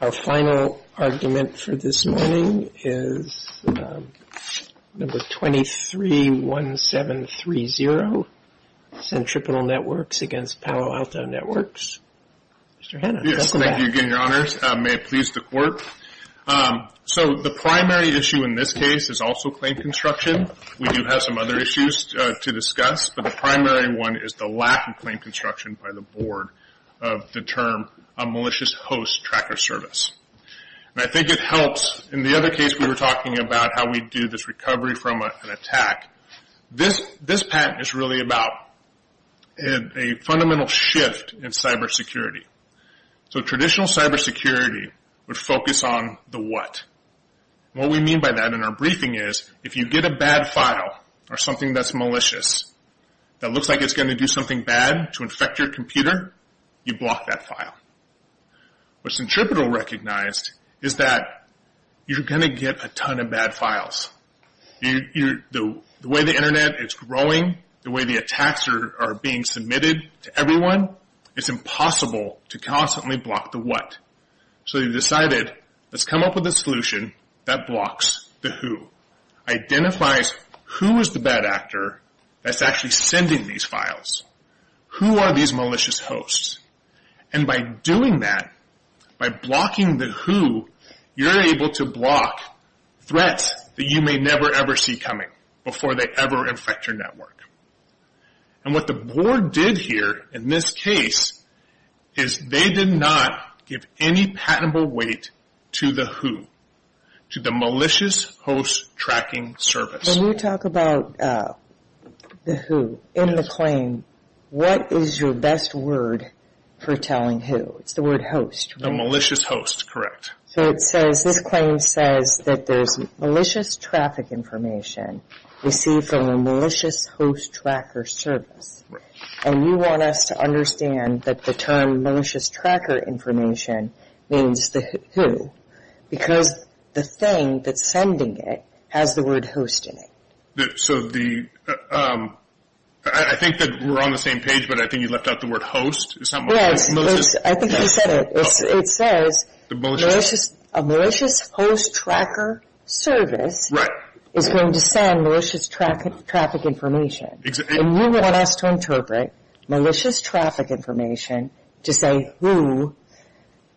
Our final argument for this morning is number 231730, Centripetal Networks against Palo Alto Networks. Mr. Hanna, welcome back. Yes, thank you again, your honors. May it please the court. So the primary issue in this case is also claim construction. We do have some other issues to discuss, but the primary one is the lack of claim construction by the board of the term a malicious host tracker service. And I think it helps, in the other case we were talking about how we do this recovery from an attack. This patent is really about a fundamental shift in cyber security. So traditional cyber security would focus on the what. What we mean by that in our briefing is if you get a bad file or something that's malicious, that looks like it's going to do something bad to infect your computer, you block that file. What Centripetal recognized is that you're going to get a ton of bad files. The way the internet is growing, the way the attacks are being submitted to everyone, it's impossible to constantly block the what. So they decided, let's come up with a solution that blocks the who. Identifies who is the bad actor that's actually sending these files. Who are these malicious hosts? And by doing that, by blocking the who, you're able to block threats that you may never ever see coming before they ever infect your network. And what the board did here in this case is they did not give any patentable weight to the who. To the malicious host tracking service. When you talk about the who, in the claim, what is your best word for telling who? It's the word host, right? The malicious host, correct. So it says, this claim says that there's malicious traffic information received from a malicious host tracker service. And you want us to understand that the term malicious tracker information means the who. Because the thing that's sending it has the word host in it. So the, I think that we're on the same page, but I think you left out the word host. Yes, I think you said it. It says a malicious host tracker service is going to send malicious traffic information. And you want us to interpret malicious traffic information to say who,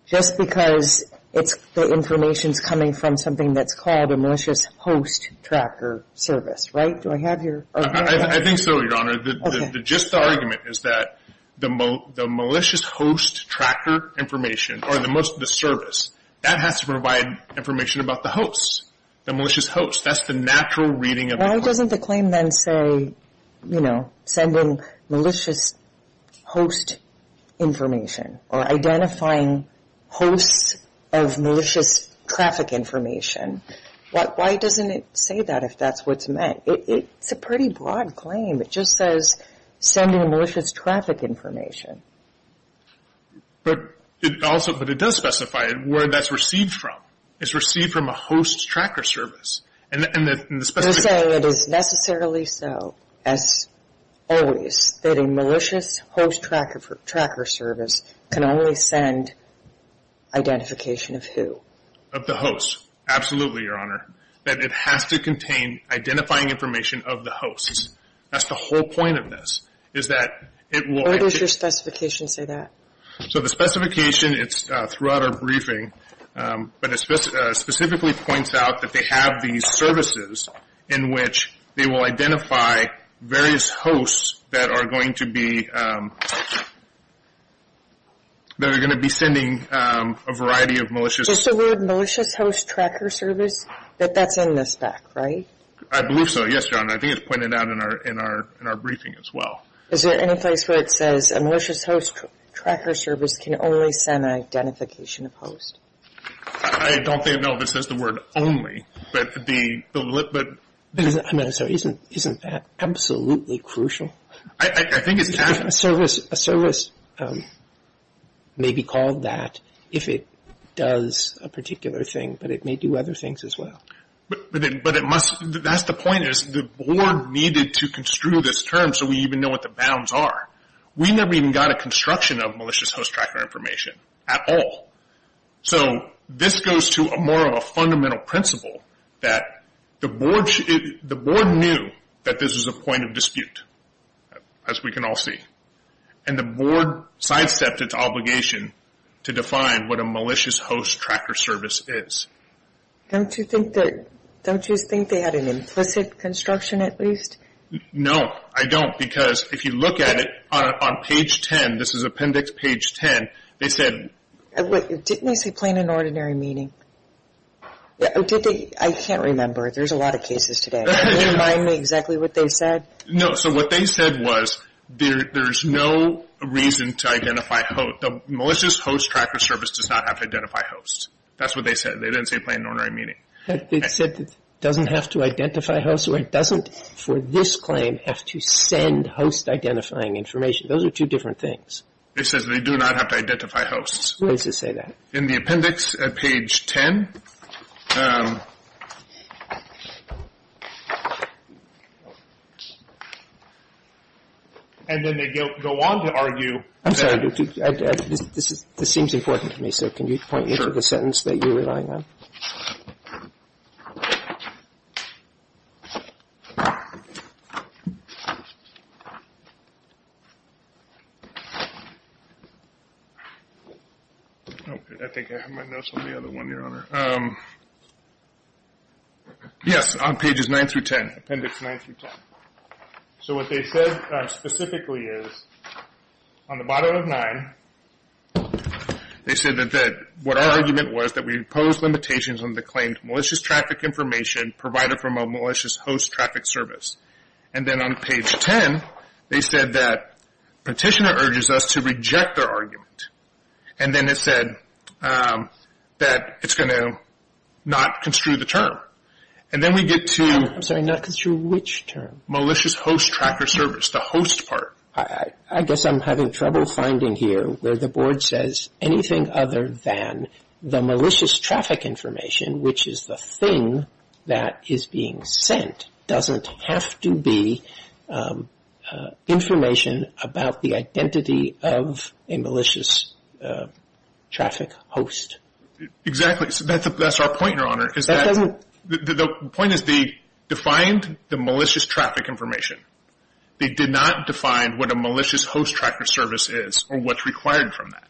just because the information's coming from something that's called a malicious host tracker service, right? Do I have your? I think so, Your Honor. Okay. Just the argument is that the malicious host tracker information, or the service, that has to provide information about the hosts, the malicious hosts. That's the natural reading of the claim. The claim then say, you know, sending malicious host information, or identifying hosts of malicious traffic information. Why doesn't it say that if that's what's meant? It's a pretty broad claim. It just says sending malicious traffic information. But it also, but it does specify it, where that's received from. It's received from a host tracker service. You're saying it is necessarily so, as always, that a malicious host tracker service can only send identification of who? Of the hosts. Absolutely, Your Honor. That it has to contain identifying information of the hosts. That's the whole point of this, is that it will... Where does your specification say that? So the specification, it's throughout our briefing, but it specifically points out that they have these services in which they will identify various hosts that are going to be... that are going to be sending a variety of malicious... Is the word malicious host tracker service, that that's in the spec, right? I believe so, yes, Your Honor. I think it's pointed out in our briefing as well. Is there any place where it says a malicious host tracker service can only send identification of host? I don't think, no, it says the word only, but the... I'm sorry, isn't that absolutely crucial? I think it's... A service may be called that if it does a particular thing, but it may do other things as well. But it must... That's the point, is the board needed to construe this term so we even know what the bounds are. We never even got a construction of malicious host tracker information at all. So this goes to more of a fundamental principle that the board knew that this was a point of dispute, as we can all see, and the board sidestepped its obligation to define what a malicious host tracker service is. Don't you think that... Don't you think they had an implicit construction at least? No, I don't. Because if you look at it on page 10, this is appendix page 10, they said... Didn't they say plain and ordinary meaning? I can't remember. There's a lot of cases today. Can you remind me exactly what they said? No. So what they said was there's no reason to identify host. The malicious host tracker service does not have to identify host. That's what they said. They didn't say plain and ordinary meaning. They said it doesn't have to identify host. So it doesn't, for this claim, have to send host identifying information. Those are two different things. They said they do not have to identify host. Who is to say that? In the appendix at page 10. And then they go on to argue... I'm sorry, this seems important to me, so can you point me to the sentence that you're relying on? I think I have my notes on the other one, Your Honor. Yes, on pages 9 through 10. Appendix 9 through 10. So what they said specifically is, on the bottom of 9, they said that what our argument was that we pose limitations on the claimed malicious traffic information provided from a malicious host traffic service. And then on page 10, they said that Petitioner urges us to reject their argument. And then it said that it's going to not construe the term. And then we get to... malicious host tracker service, the host part. I guess I'm having trouble finding here where the board says anything other than the malicious traffic information, which is the thing that is being sent, doesn't have to be information about the identity of a malicious traffic host. That's our point, Your Honor. The point is they defined the malicious traffic information. They did not define what a malicious host tracker service is or what's required from that.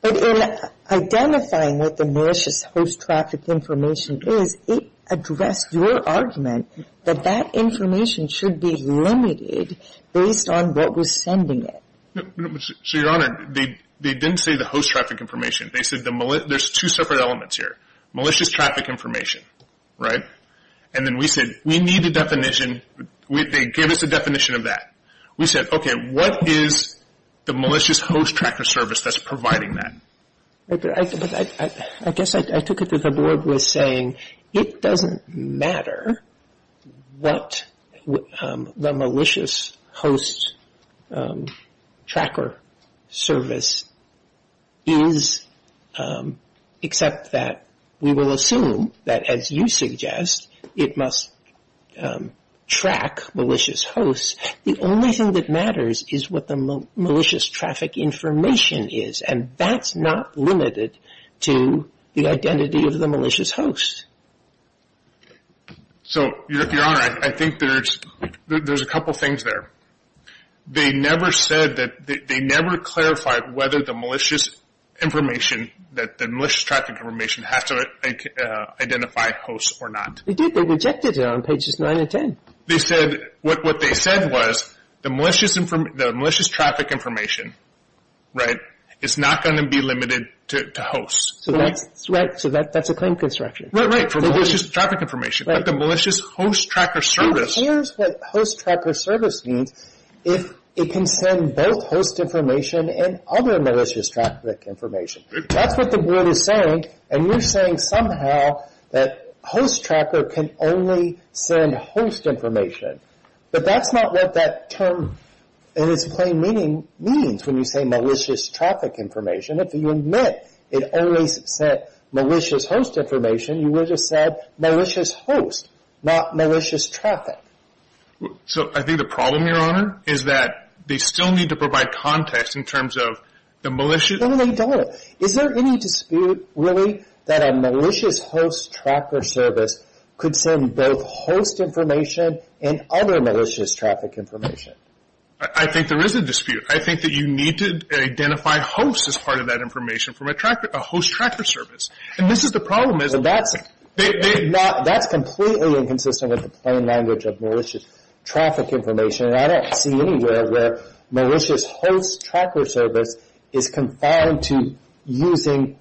But in identifying what the malicious host traffic information is, it addressed your argument that that information should be limited based on what was sending it. So, Your Honor, they didn't say the host traffic information. They said there's two separate elements here. Malicious traffic information, right? And then we said we need a definition. They gave us a definition of that. We said, okay, what is the malicious host tracker service that's providing that? I guess I took it that the board was saying it doesn't matter what the malicious host tracker service is, except that we will assume that, as you suggest, it must track malicious hosts. The only thing that matters is what the malicious traffic information is, and that's not limited to the identity of the malicious host. So, Your Honor, I think there's a couple things there. They never clarified whether the malicious traffic information has to identify hosts or not. They did. They rejected it on pages 9 and 10. What they said was the malicious traffic information is not going to be limited to hosts. So that's a claim construction. Right, for malicious traffic information. But the malicious host tracker service... It can send both host information and other malicious traffic information. That's what the board is saying, and you're saying somehow that host tracker can only send host information. But that's not what that term in its plain meaning means when you say malicious traffic information. If you admit it only sent malicious host information, you would have said malicious host, not malicious traffic. So I think the problem, Your Honor, is that they still need to provide context in terms of the malicious... No, they don't. Is there any dispute, really, that a malicious host tracker service could send both host information and other malicious traffic information? I think there is a dispute. I think that you need to identify hosts as part of that information from a host tracker service. That's completely inconsistent with the plain language of malicious traffic information, and I don't see anywhere where malicious host tracker service is confined to only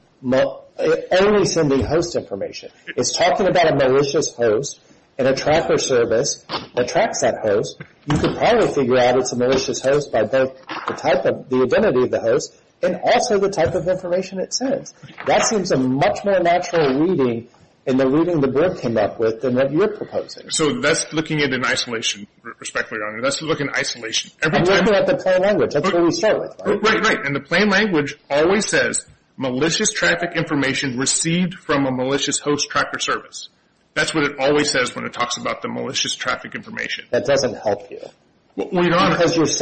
sending host information. It's talking about a malicious host, and a tracker service that tracks that host. You can probably figure out it's a malicious host by both the identity of the host and also the type of information it sends. That seems a much more natural reading in the reading the board came up with than what you're proposing. So that's looking at it in isolation, respectfully, Your Honor. That's looking at it in isolation. I'm looking at the plain language. That's what we start with, right? Right, right. And the plain language always says malicious traffic information received from a malicious host tracker service. That's what it always says when it talks about the malicious traffic information. That doesn't help you. Well, Your Honor... That's what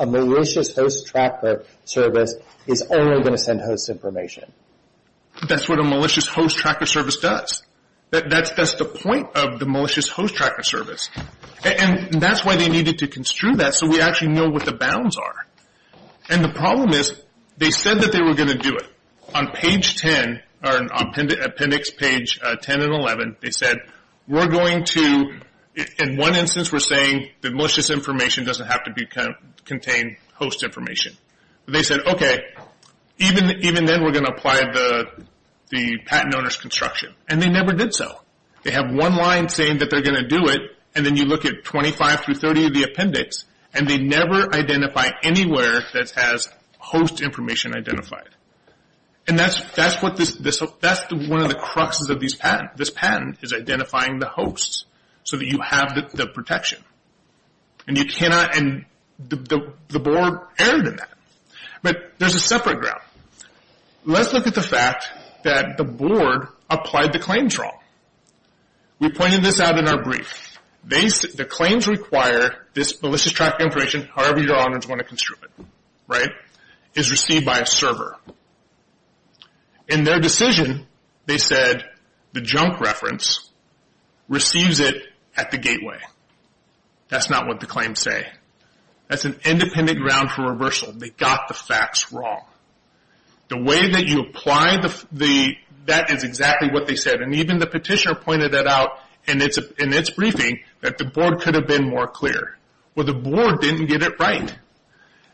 a malicious host tracker service does. That's the point of the malicious host tracker service. And that's why they needed to construe that so we actually know what the bounds are. And the problem is they said that they were going to do it. On page 10, or appendix page 10 and 11, they said we're going to, in one instance, we're saying that malicious information doesn't have to contain host information. They said, okay, even then we're going to apply the patent owner's construction. And they never did so. They have one line saying that they're going to do it, and then you look at 25 through 30 of the appendix, and they never identify anywhere that has host information identified. And that's one of the cruxes of this patent. This patent is identifying the hosts so that you have the protection. And you cannot, and the board erred in that. But there's a separate ground. Let's look at the fact that the board applied the claims wrong. We pointed this out in our brief. The claims require this malicious traffic information, however Your Honors want to construe it, right, is received by a server. In their decision, they said the junk reference receives it at the gateway. That's not what the claims say. That's an independent ground for reversal. They got the facts wrong. The way that you apply the, that is exactly what they said. And even the petitioner pointed that out in its briefing that the board could have been more clear. Well, the board didn't get it right.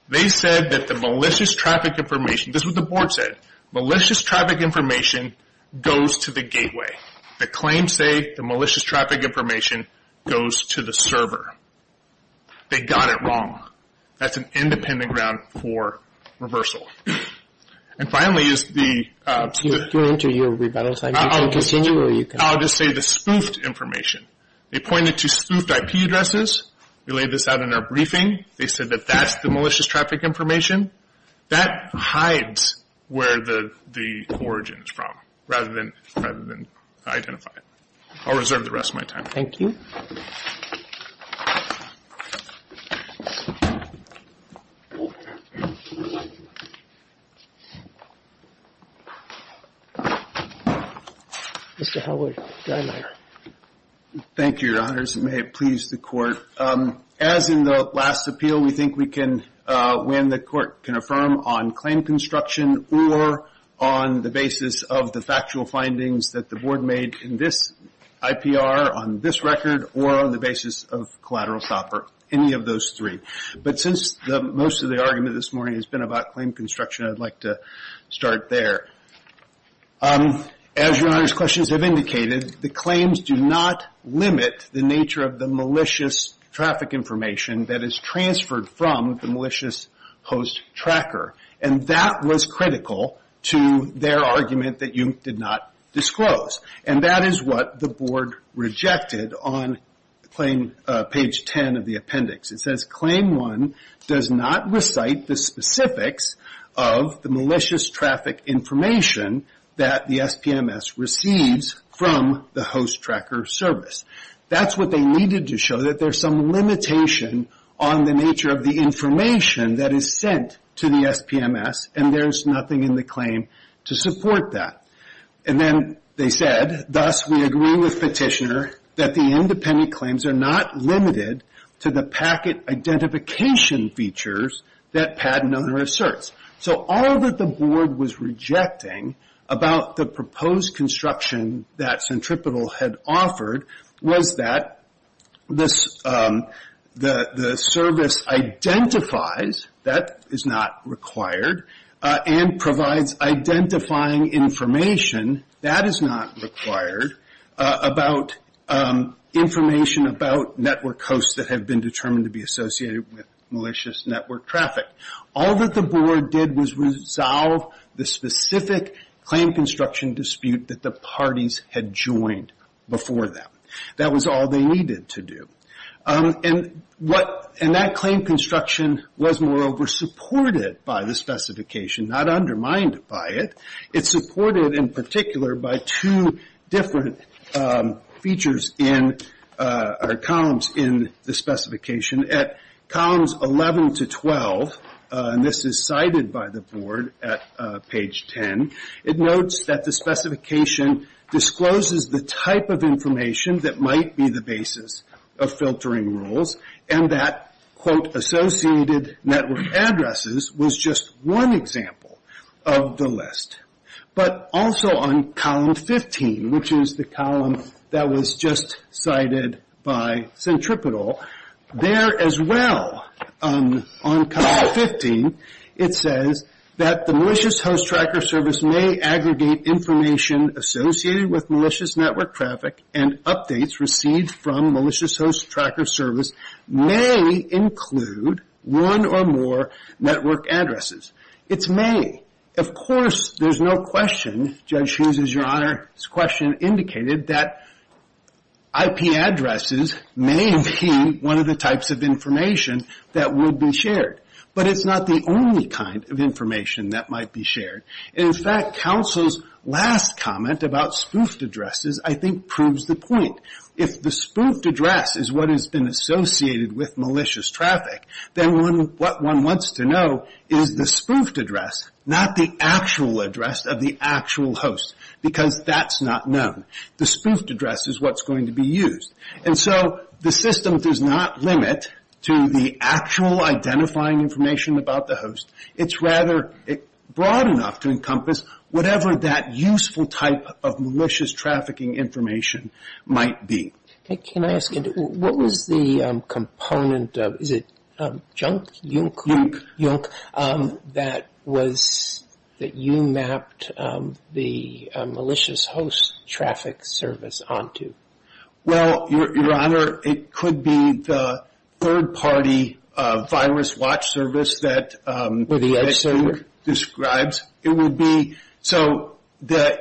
They said that the malicious traffic information, this is what the board said, malicious traffic information goes to the gateway. The claims say the malicious traffic information goes to the server. They got it wrong. That's an independent ground for reversal. And finally is the... I'll just say the spoofed information. They pointed to spoofed IP addresses. We laid this out in our briefing. They said that that's the malicious traffic information. That hides where the origin is from rather than identify it. I'll reserve the rest of my time. Thank you. Mr. Howard. May it please the Court. As in the last appeal, we think we can, when the Court can affirm on claim construction or on the basis of the factual findings that the board made in this IPR on this record or on the basis of collateral shopper, any of those three. But since most of the argument this morning has been about claim construction, I'd like to start there. As Your Honor's questions have indicated, the claims do not limit the nature of the malicious traffic information that is transferred from the malicious host tracker. And that was critical to their argument that you did not disclose. And that is what the board rejected on page 10 of the appendix. It says claim one does not recite the specifics of the malicious traffic information that the SPMS receives from the host tracker service. That's what they needed to show, that there's some limitation on the nature of the information that is sent to the SPMS and there's nothing in the claim to support that. And then they said, thus we agree with Petitioner that the independent claims are not limited to the packet identification features that patent owner asserts. So all that the board was rejecting about the proposed construction that Centripetal had offered was that the service identifies, that is not required, and provides identifying information, that is not required, about information about network hosts that have been determined to be associated with malicious network traffic. All that the board did was resolve the specific claim construction dispute that the parties had joined before that. That was all they needed to do. And that claim construction was moreover supported by the specification, not undermined by it. It's supported in particular by two different columns in the specification. At columns 11 to 12, and this is cited by the board at page 10, it notes that the specification discloses the type of information that might be the basis of filtering rules and that, quote, associated network addresses was just one example of the list. But also on column 15, which is the column that was just cited by Centripetal, there as well on column 15, it says that the malicious host tracker service may aggregate information associated with malicious network traffic and updates received from malicious host tracker service may include one or more network addresses. It's may. Of course, there's no question, Judge Hughes is your honor, this question indicated that IP addresses may be one of the types of information that would be shared. But it's not the only kind of information that might be shared. In fact, counsel's last comment about spoofed addresses I think proves the point. If the spoofed address is what has been associated with malicious traffic, then what one wants to know is the spoofed address, not the actual address of the actual host. Because that's not known. The spoofed address is what's going to be used. And so the system does not limit to the actual identifying information about the host. It's rather broad enough to encompass whatever that useful type of malicious trafficking information might be. Can I ask, what was the component of, is it Junk? Junk. Junk. That you mapped the malicious host traffic service onto? Well, your honor, it could be the third party virus watch service that Judge Hughes describes. Or the edge server. So the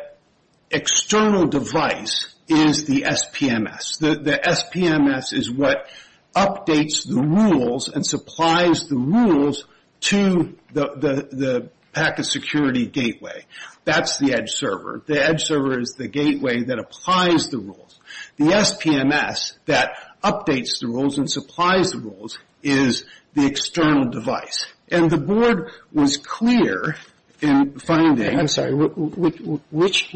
external device is the SPMS. The SPMS is what updates the rules and supplies the rules to the packet security gateway. That's the edge server. The edge server is the gateway that applies the rules. The SPMS that updates the rules and supplies the rules is the external device. And the board was clear in finding. I'm sorry, which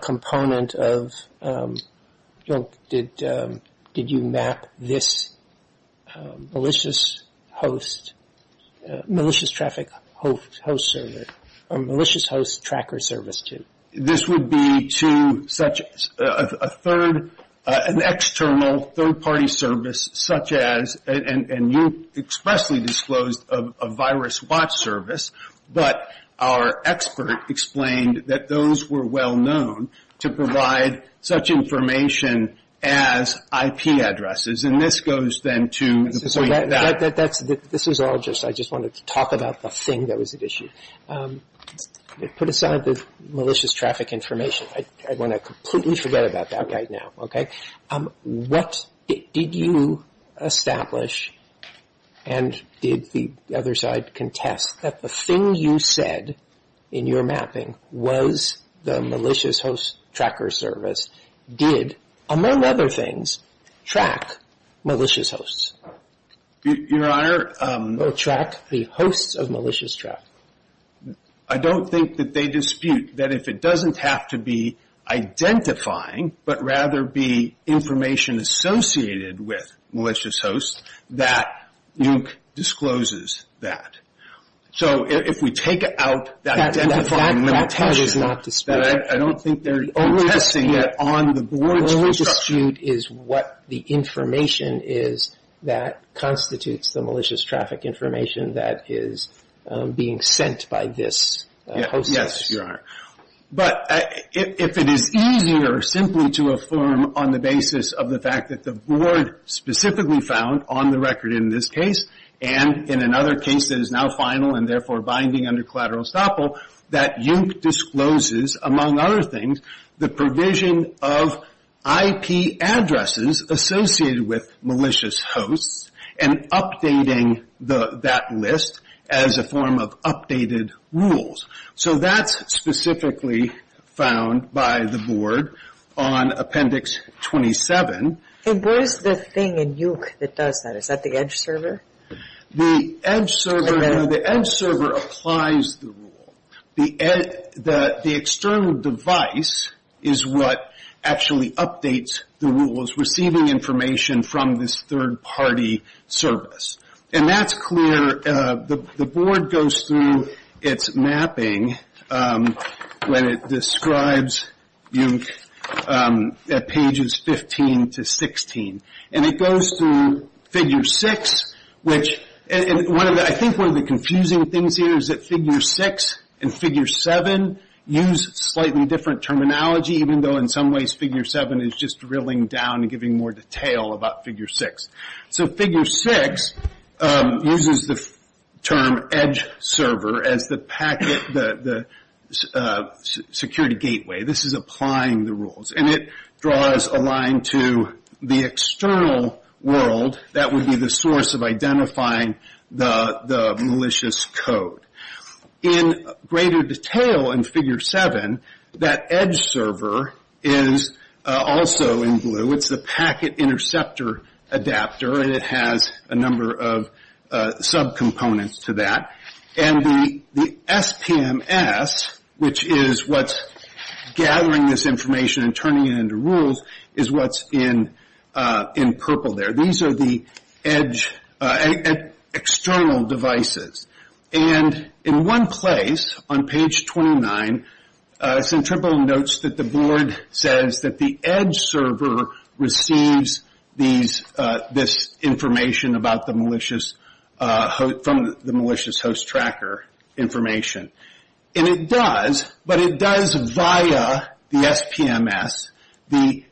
component of Junk did you map this malicious host, malicious traffic host service, malicious host tracker service to? This would be to such a third, an external third party service such as, and you expressly disclosed a virus watch service. But our expert explained that those were well known to provide such information as IP addresses. And this goes then to the point that. This is all just, I just wanted to talk about the thing that was at issue. Put aside the malicious traffic information. I want to completely forget about that right now. Okay. What did you establish? And did the other side contest that the thing you said in your mapping was the malicious host tracker service? Did, among other things, track malicious hosts? Your Honor. Or track the hosts of malicious traffic? I don't think that they dispute that if it doesn't have to be identifying, but rather be information associated with malicious hosts, that Junk discloses that. So if we take out that identifying limitation. That part is not disputed. I don't think they're contesting it on the board's construction. The dispute is what the information is that constitutes the malicious traffic information that is being sent by this host. Yes, Your Honor. But if it is easier simply to affirm on the basis of the fact that the board specifically found on the record in this case, and in another case that is now final and therefore binding under collateral estoppel, that Junk discloses, among other things, the provision of IP addresses associated with malicious hosts and updating that list as a form of updated rules. So that's specifically found by the board on Appendix 27. And where is the thing in Junk that does that? Is that the edge server? The edge server applies the rule. The external device is what actually updates the rules, receiving information from this third-party service. And that's clear. The board goes through its mapping when it describes Junk at pages 15 to 16. And it goes through Figure 6. I think one of the confusing things here is that Figure 6 and Figure 7 use slightly different terminology, even though in some ways Figure 7 is just drilling down and giving more detail about Figure 6. So Figure 6 uses the term edge server as the security gateway. This is applying the rules. And it draws a line to the external world that would be the source of identifying the malicious code. In greater detail in Figure 7, that edge server is also in blue. It's the packet interceptor adapter, and it has a number of subcomponents to that. And the SPMS, which is what's gathering this information and turning it into rules, is what's in purple there. These are the external devices. And in one place on page 29, it's in purple notes that the board says that the edge server receives this information from the malicious host tracker information. And it does, but it does via the SPMS the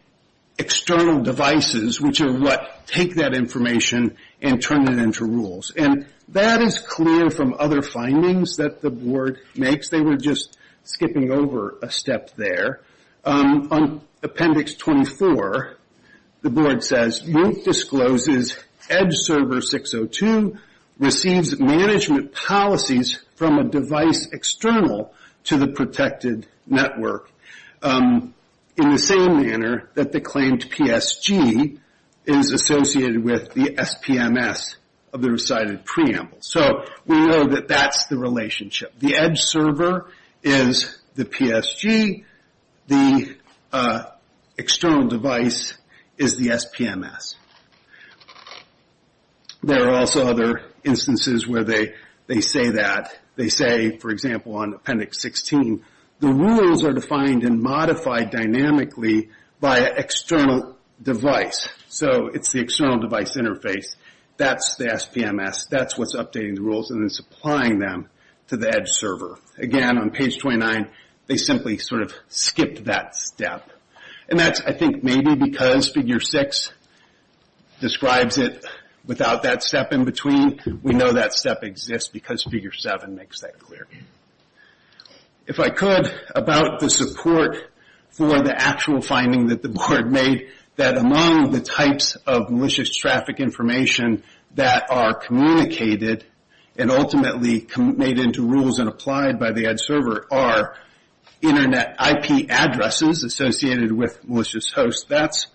external devices, which are what take that information and turn it into rules. And that is clear from other findings that the board makes. They were just skipping over a step there. On appendix 24, the board says, MOOC discloses edge server 602 receives management policies from a device external to the protected network in the same manner that the claimed PSG is associated with the SPMS of the recited preamble. So we know that that's the relationship. The edge server is the PSG. The external device is the SPMS. There are also other instances where they say that. The rules are defined and modified dynamically by an external device. So it's the external device interface. That's the SPMS. That's what's updating the rules, and it's applying them to the edge server. Again, on page 29, they simply sort of skipped that step. And that's, I think, maybe because figure six describes it without that step in between. We know that step exists because figure seven makes that clear. If I could, about the support for the actual finding that the board made, that among the types of malicious traffic information that are communicated and ultimately made into rules and applied by the edge server are internet IP addresses associated with malicious hosts. That's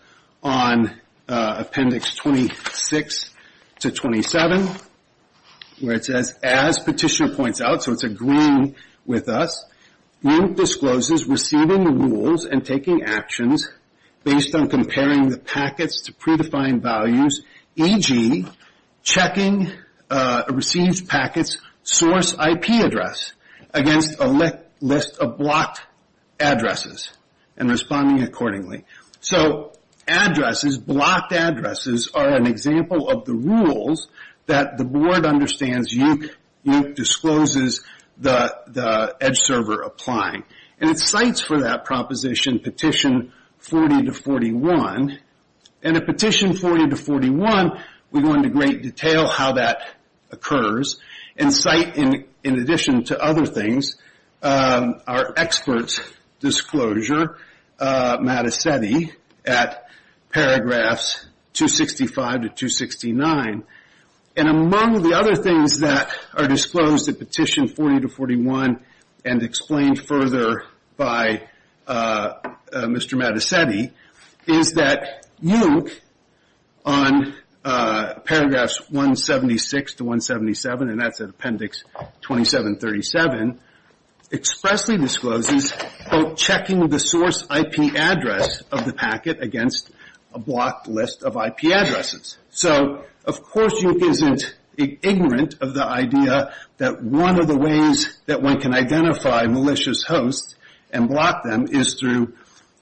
on appendix 26 to 27, where it says, as petitioner points out, so it's agreeing with us, group discloses receiving the rules and taking actions based on comparing the packets to predefined values, e.g., checking a received packet's source IP address against a list of blocked addresses and responding accordingly. So addresses, blocked addresses, are an example of the rules that the board understands and discloses the edge server applying. And it cites for that proposition petition 40 to 41. And at petition 40 to 41, we go into great detail how that occurs and cite, in addition to other things, our experts' disclosure, Mattacetti, at paragraphs 265 to 269. And among the other things that are disclosed at petition 40 to 41 and explained further by Mr. Mattacetti is that UIC, on paragraphs 176 to 177, and that's at appendix 2737, expressly discloses, quote, checking the source IP address of the packet against a blocked list of IP addresses. So of course UIC isn't ignorant of the idea that one of the ways that one can identify malicious hosts and block them is through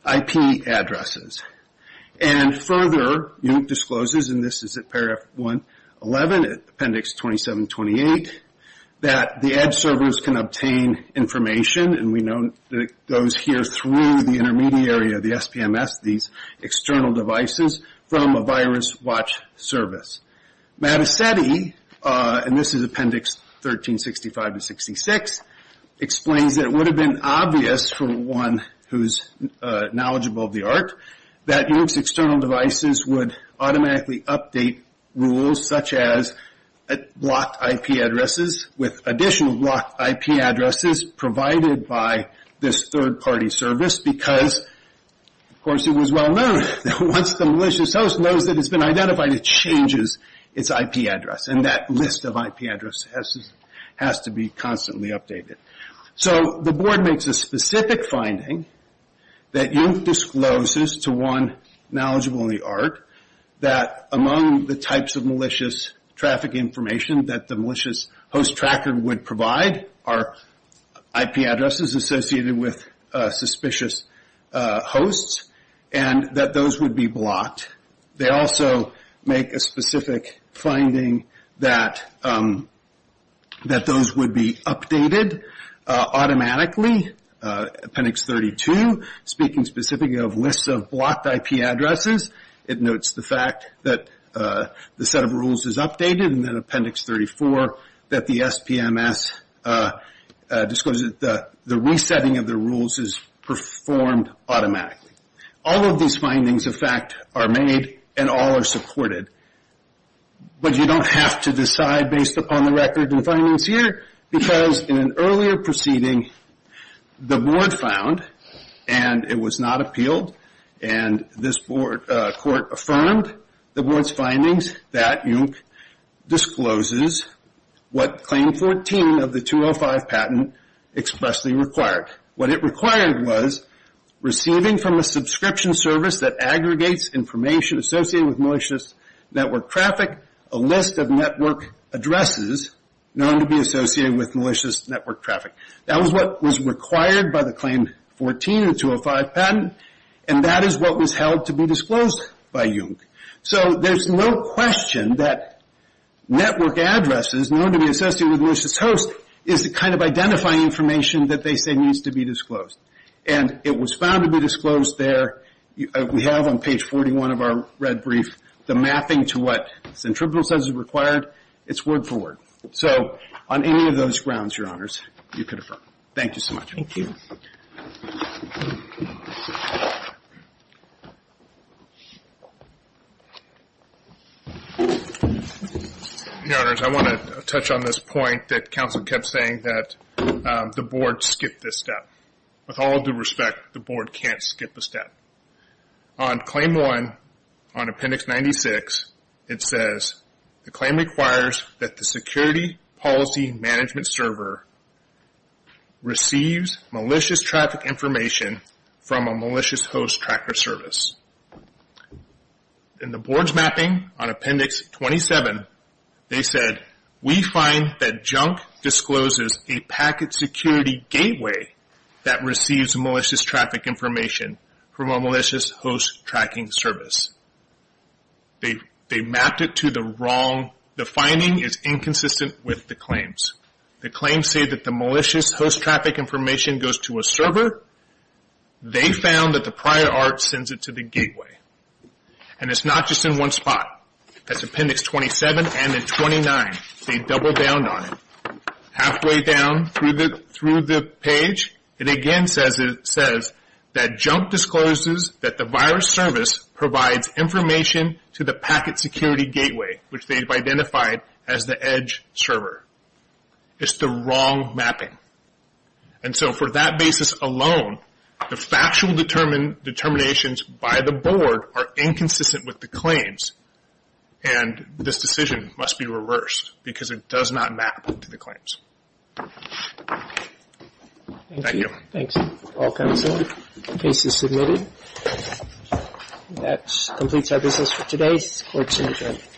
IP addresses. And further, UIC discloses, and this is at paragraph 111 at appendix 2728, that the edge servers can obtain information, and we know that it goes here through the intermediary of the SPMS, these external devices, from a virus watch service. Mattacetti, and this is appendix 1365 to 66, explains that it would have been obvious for one who's knowledgeable of the art that UIC's external devices would automatically update rules such as blocked IP addresses with additional blocked IP addresses provided by this third-party service because, of course, it was well known that once the malicious host knows that it's been identified, it changes its IP address, and that list of IP addresses has to be constantly updated. So the board makes a specific finding that UIC discloses to one knowledgeable in the art that among the types of malicious traffic information that the malicious host tracker would provide are IP addresses associated with suspicious hosts, and that those would be blocked. They also make a specific finding that those would be updated automatically. Appendix 32, speaking specifically of lists of blocked IP addresses, it notes the fact that the set of rules is updated, and then appendix 34, that the SPMS discloses that the resetting of the rules is performed automatically. All of these findings, in fact, are made and all are supported, but you don't have to decide based upon the record and findings here because in an earlier proceeding, the board found, and it was not appealed, and this court affirmed the board's findings that UIC discloses what claim 14 of the 205 patent expressly required. What it required was receiving from a subscription service that aggregates information associated with malicious network traffic a list of network addresses known to be associated with malicious network traffic. That was what was required by the claim 14 of the 205 patent, and that is what was held to be disclosed by UIC. So there's no question that network addresses known to be associated with malicious hosts is the kind of identifying information that they say needs to be disclosed, and it was found to be disclosed there. We have on page 41 of our red brief the mapping to what Centribunal says is required. It's word for word. So on any of those grounds, Your Honors, you could affirm. Thank you so much. Thank you. Your Honors, I want to touch on this point that counsel kept saying that the board skipped this step. With all due respect, the board can't skip a step. On claim one, on appendix 96, it says the claim requires that the security policy management server receives malicious traffic information from a malicious host tracker service. In the board's mapping on appendix 27, they said, we find that Junk discloses a packet security gateway that receives malicious traffic information from a malicious host tracking service. They mapped it to the wrong. The finding is inconsistent with the claims. The claims say that the malicious host traffic information goes to a server. They found that the prior art sends it to the gateway, and it's not just in one spot. That's appendix 27 and then 29. They doubled down on it. Halfway down through the page, it again says that Junk discloses that the virus service provides information to the packet security gateway, which they've identified as the edge server. It's the wrong mapping. And so for that basis alone, the factual determinations by the board are inconsistent with the claims, and this decision must be reversed because it does not map to the claims. Thank you. Thank you. Thanks, all counsel. The case is submitted. That completes our business for today. Court is adjourned.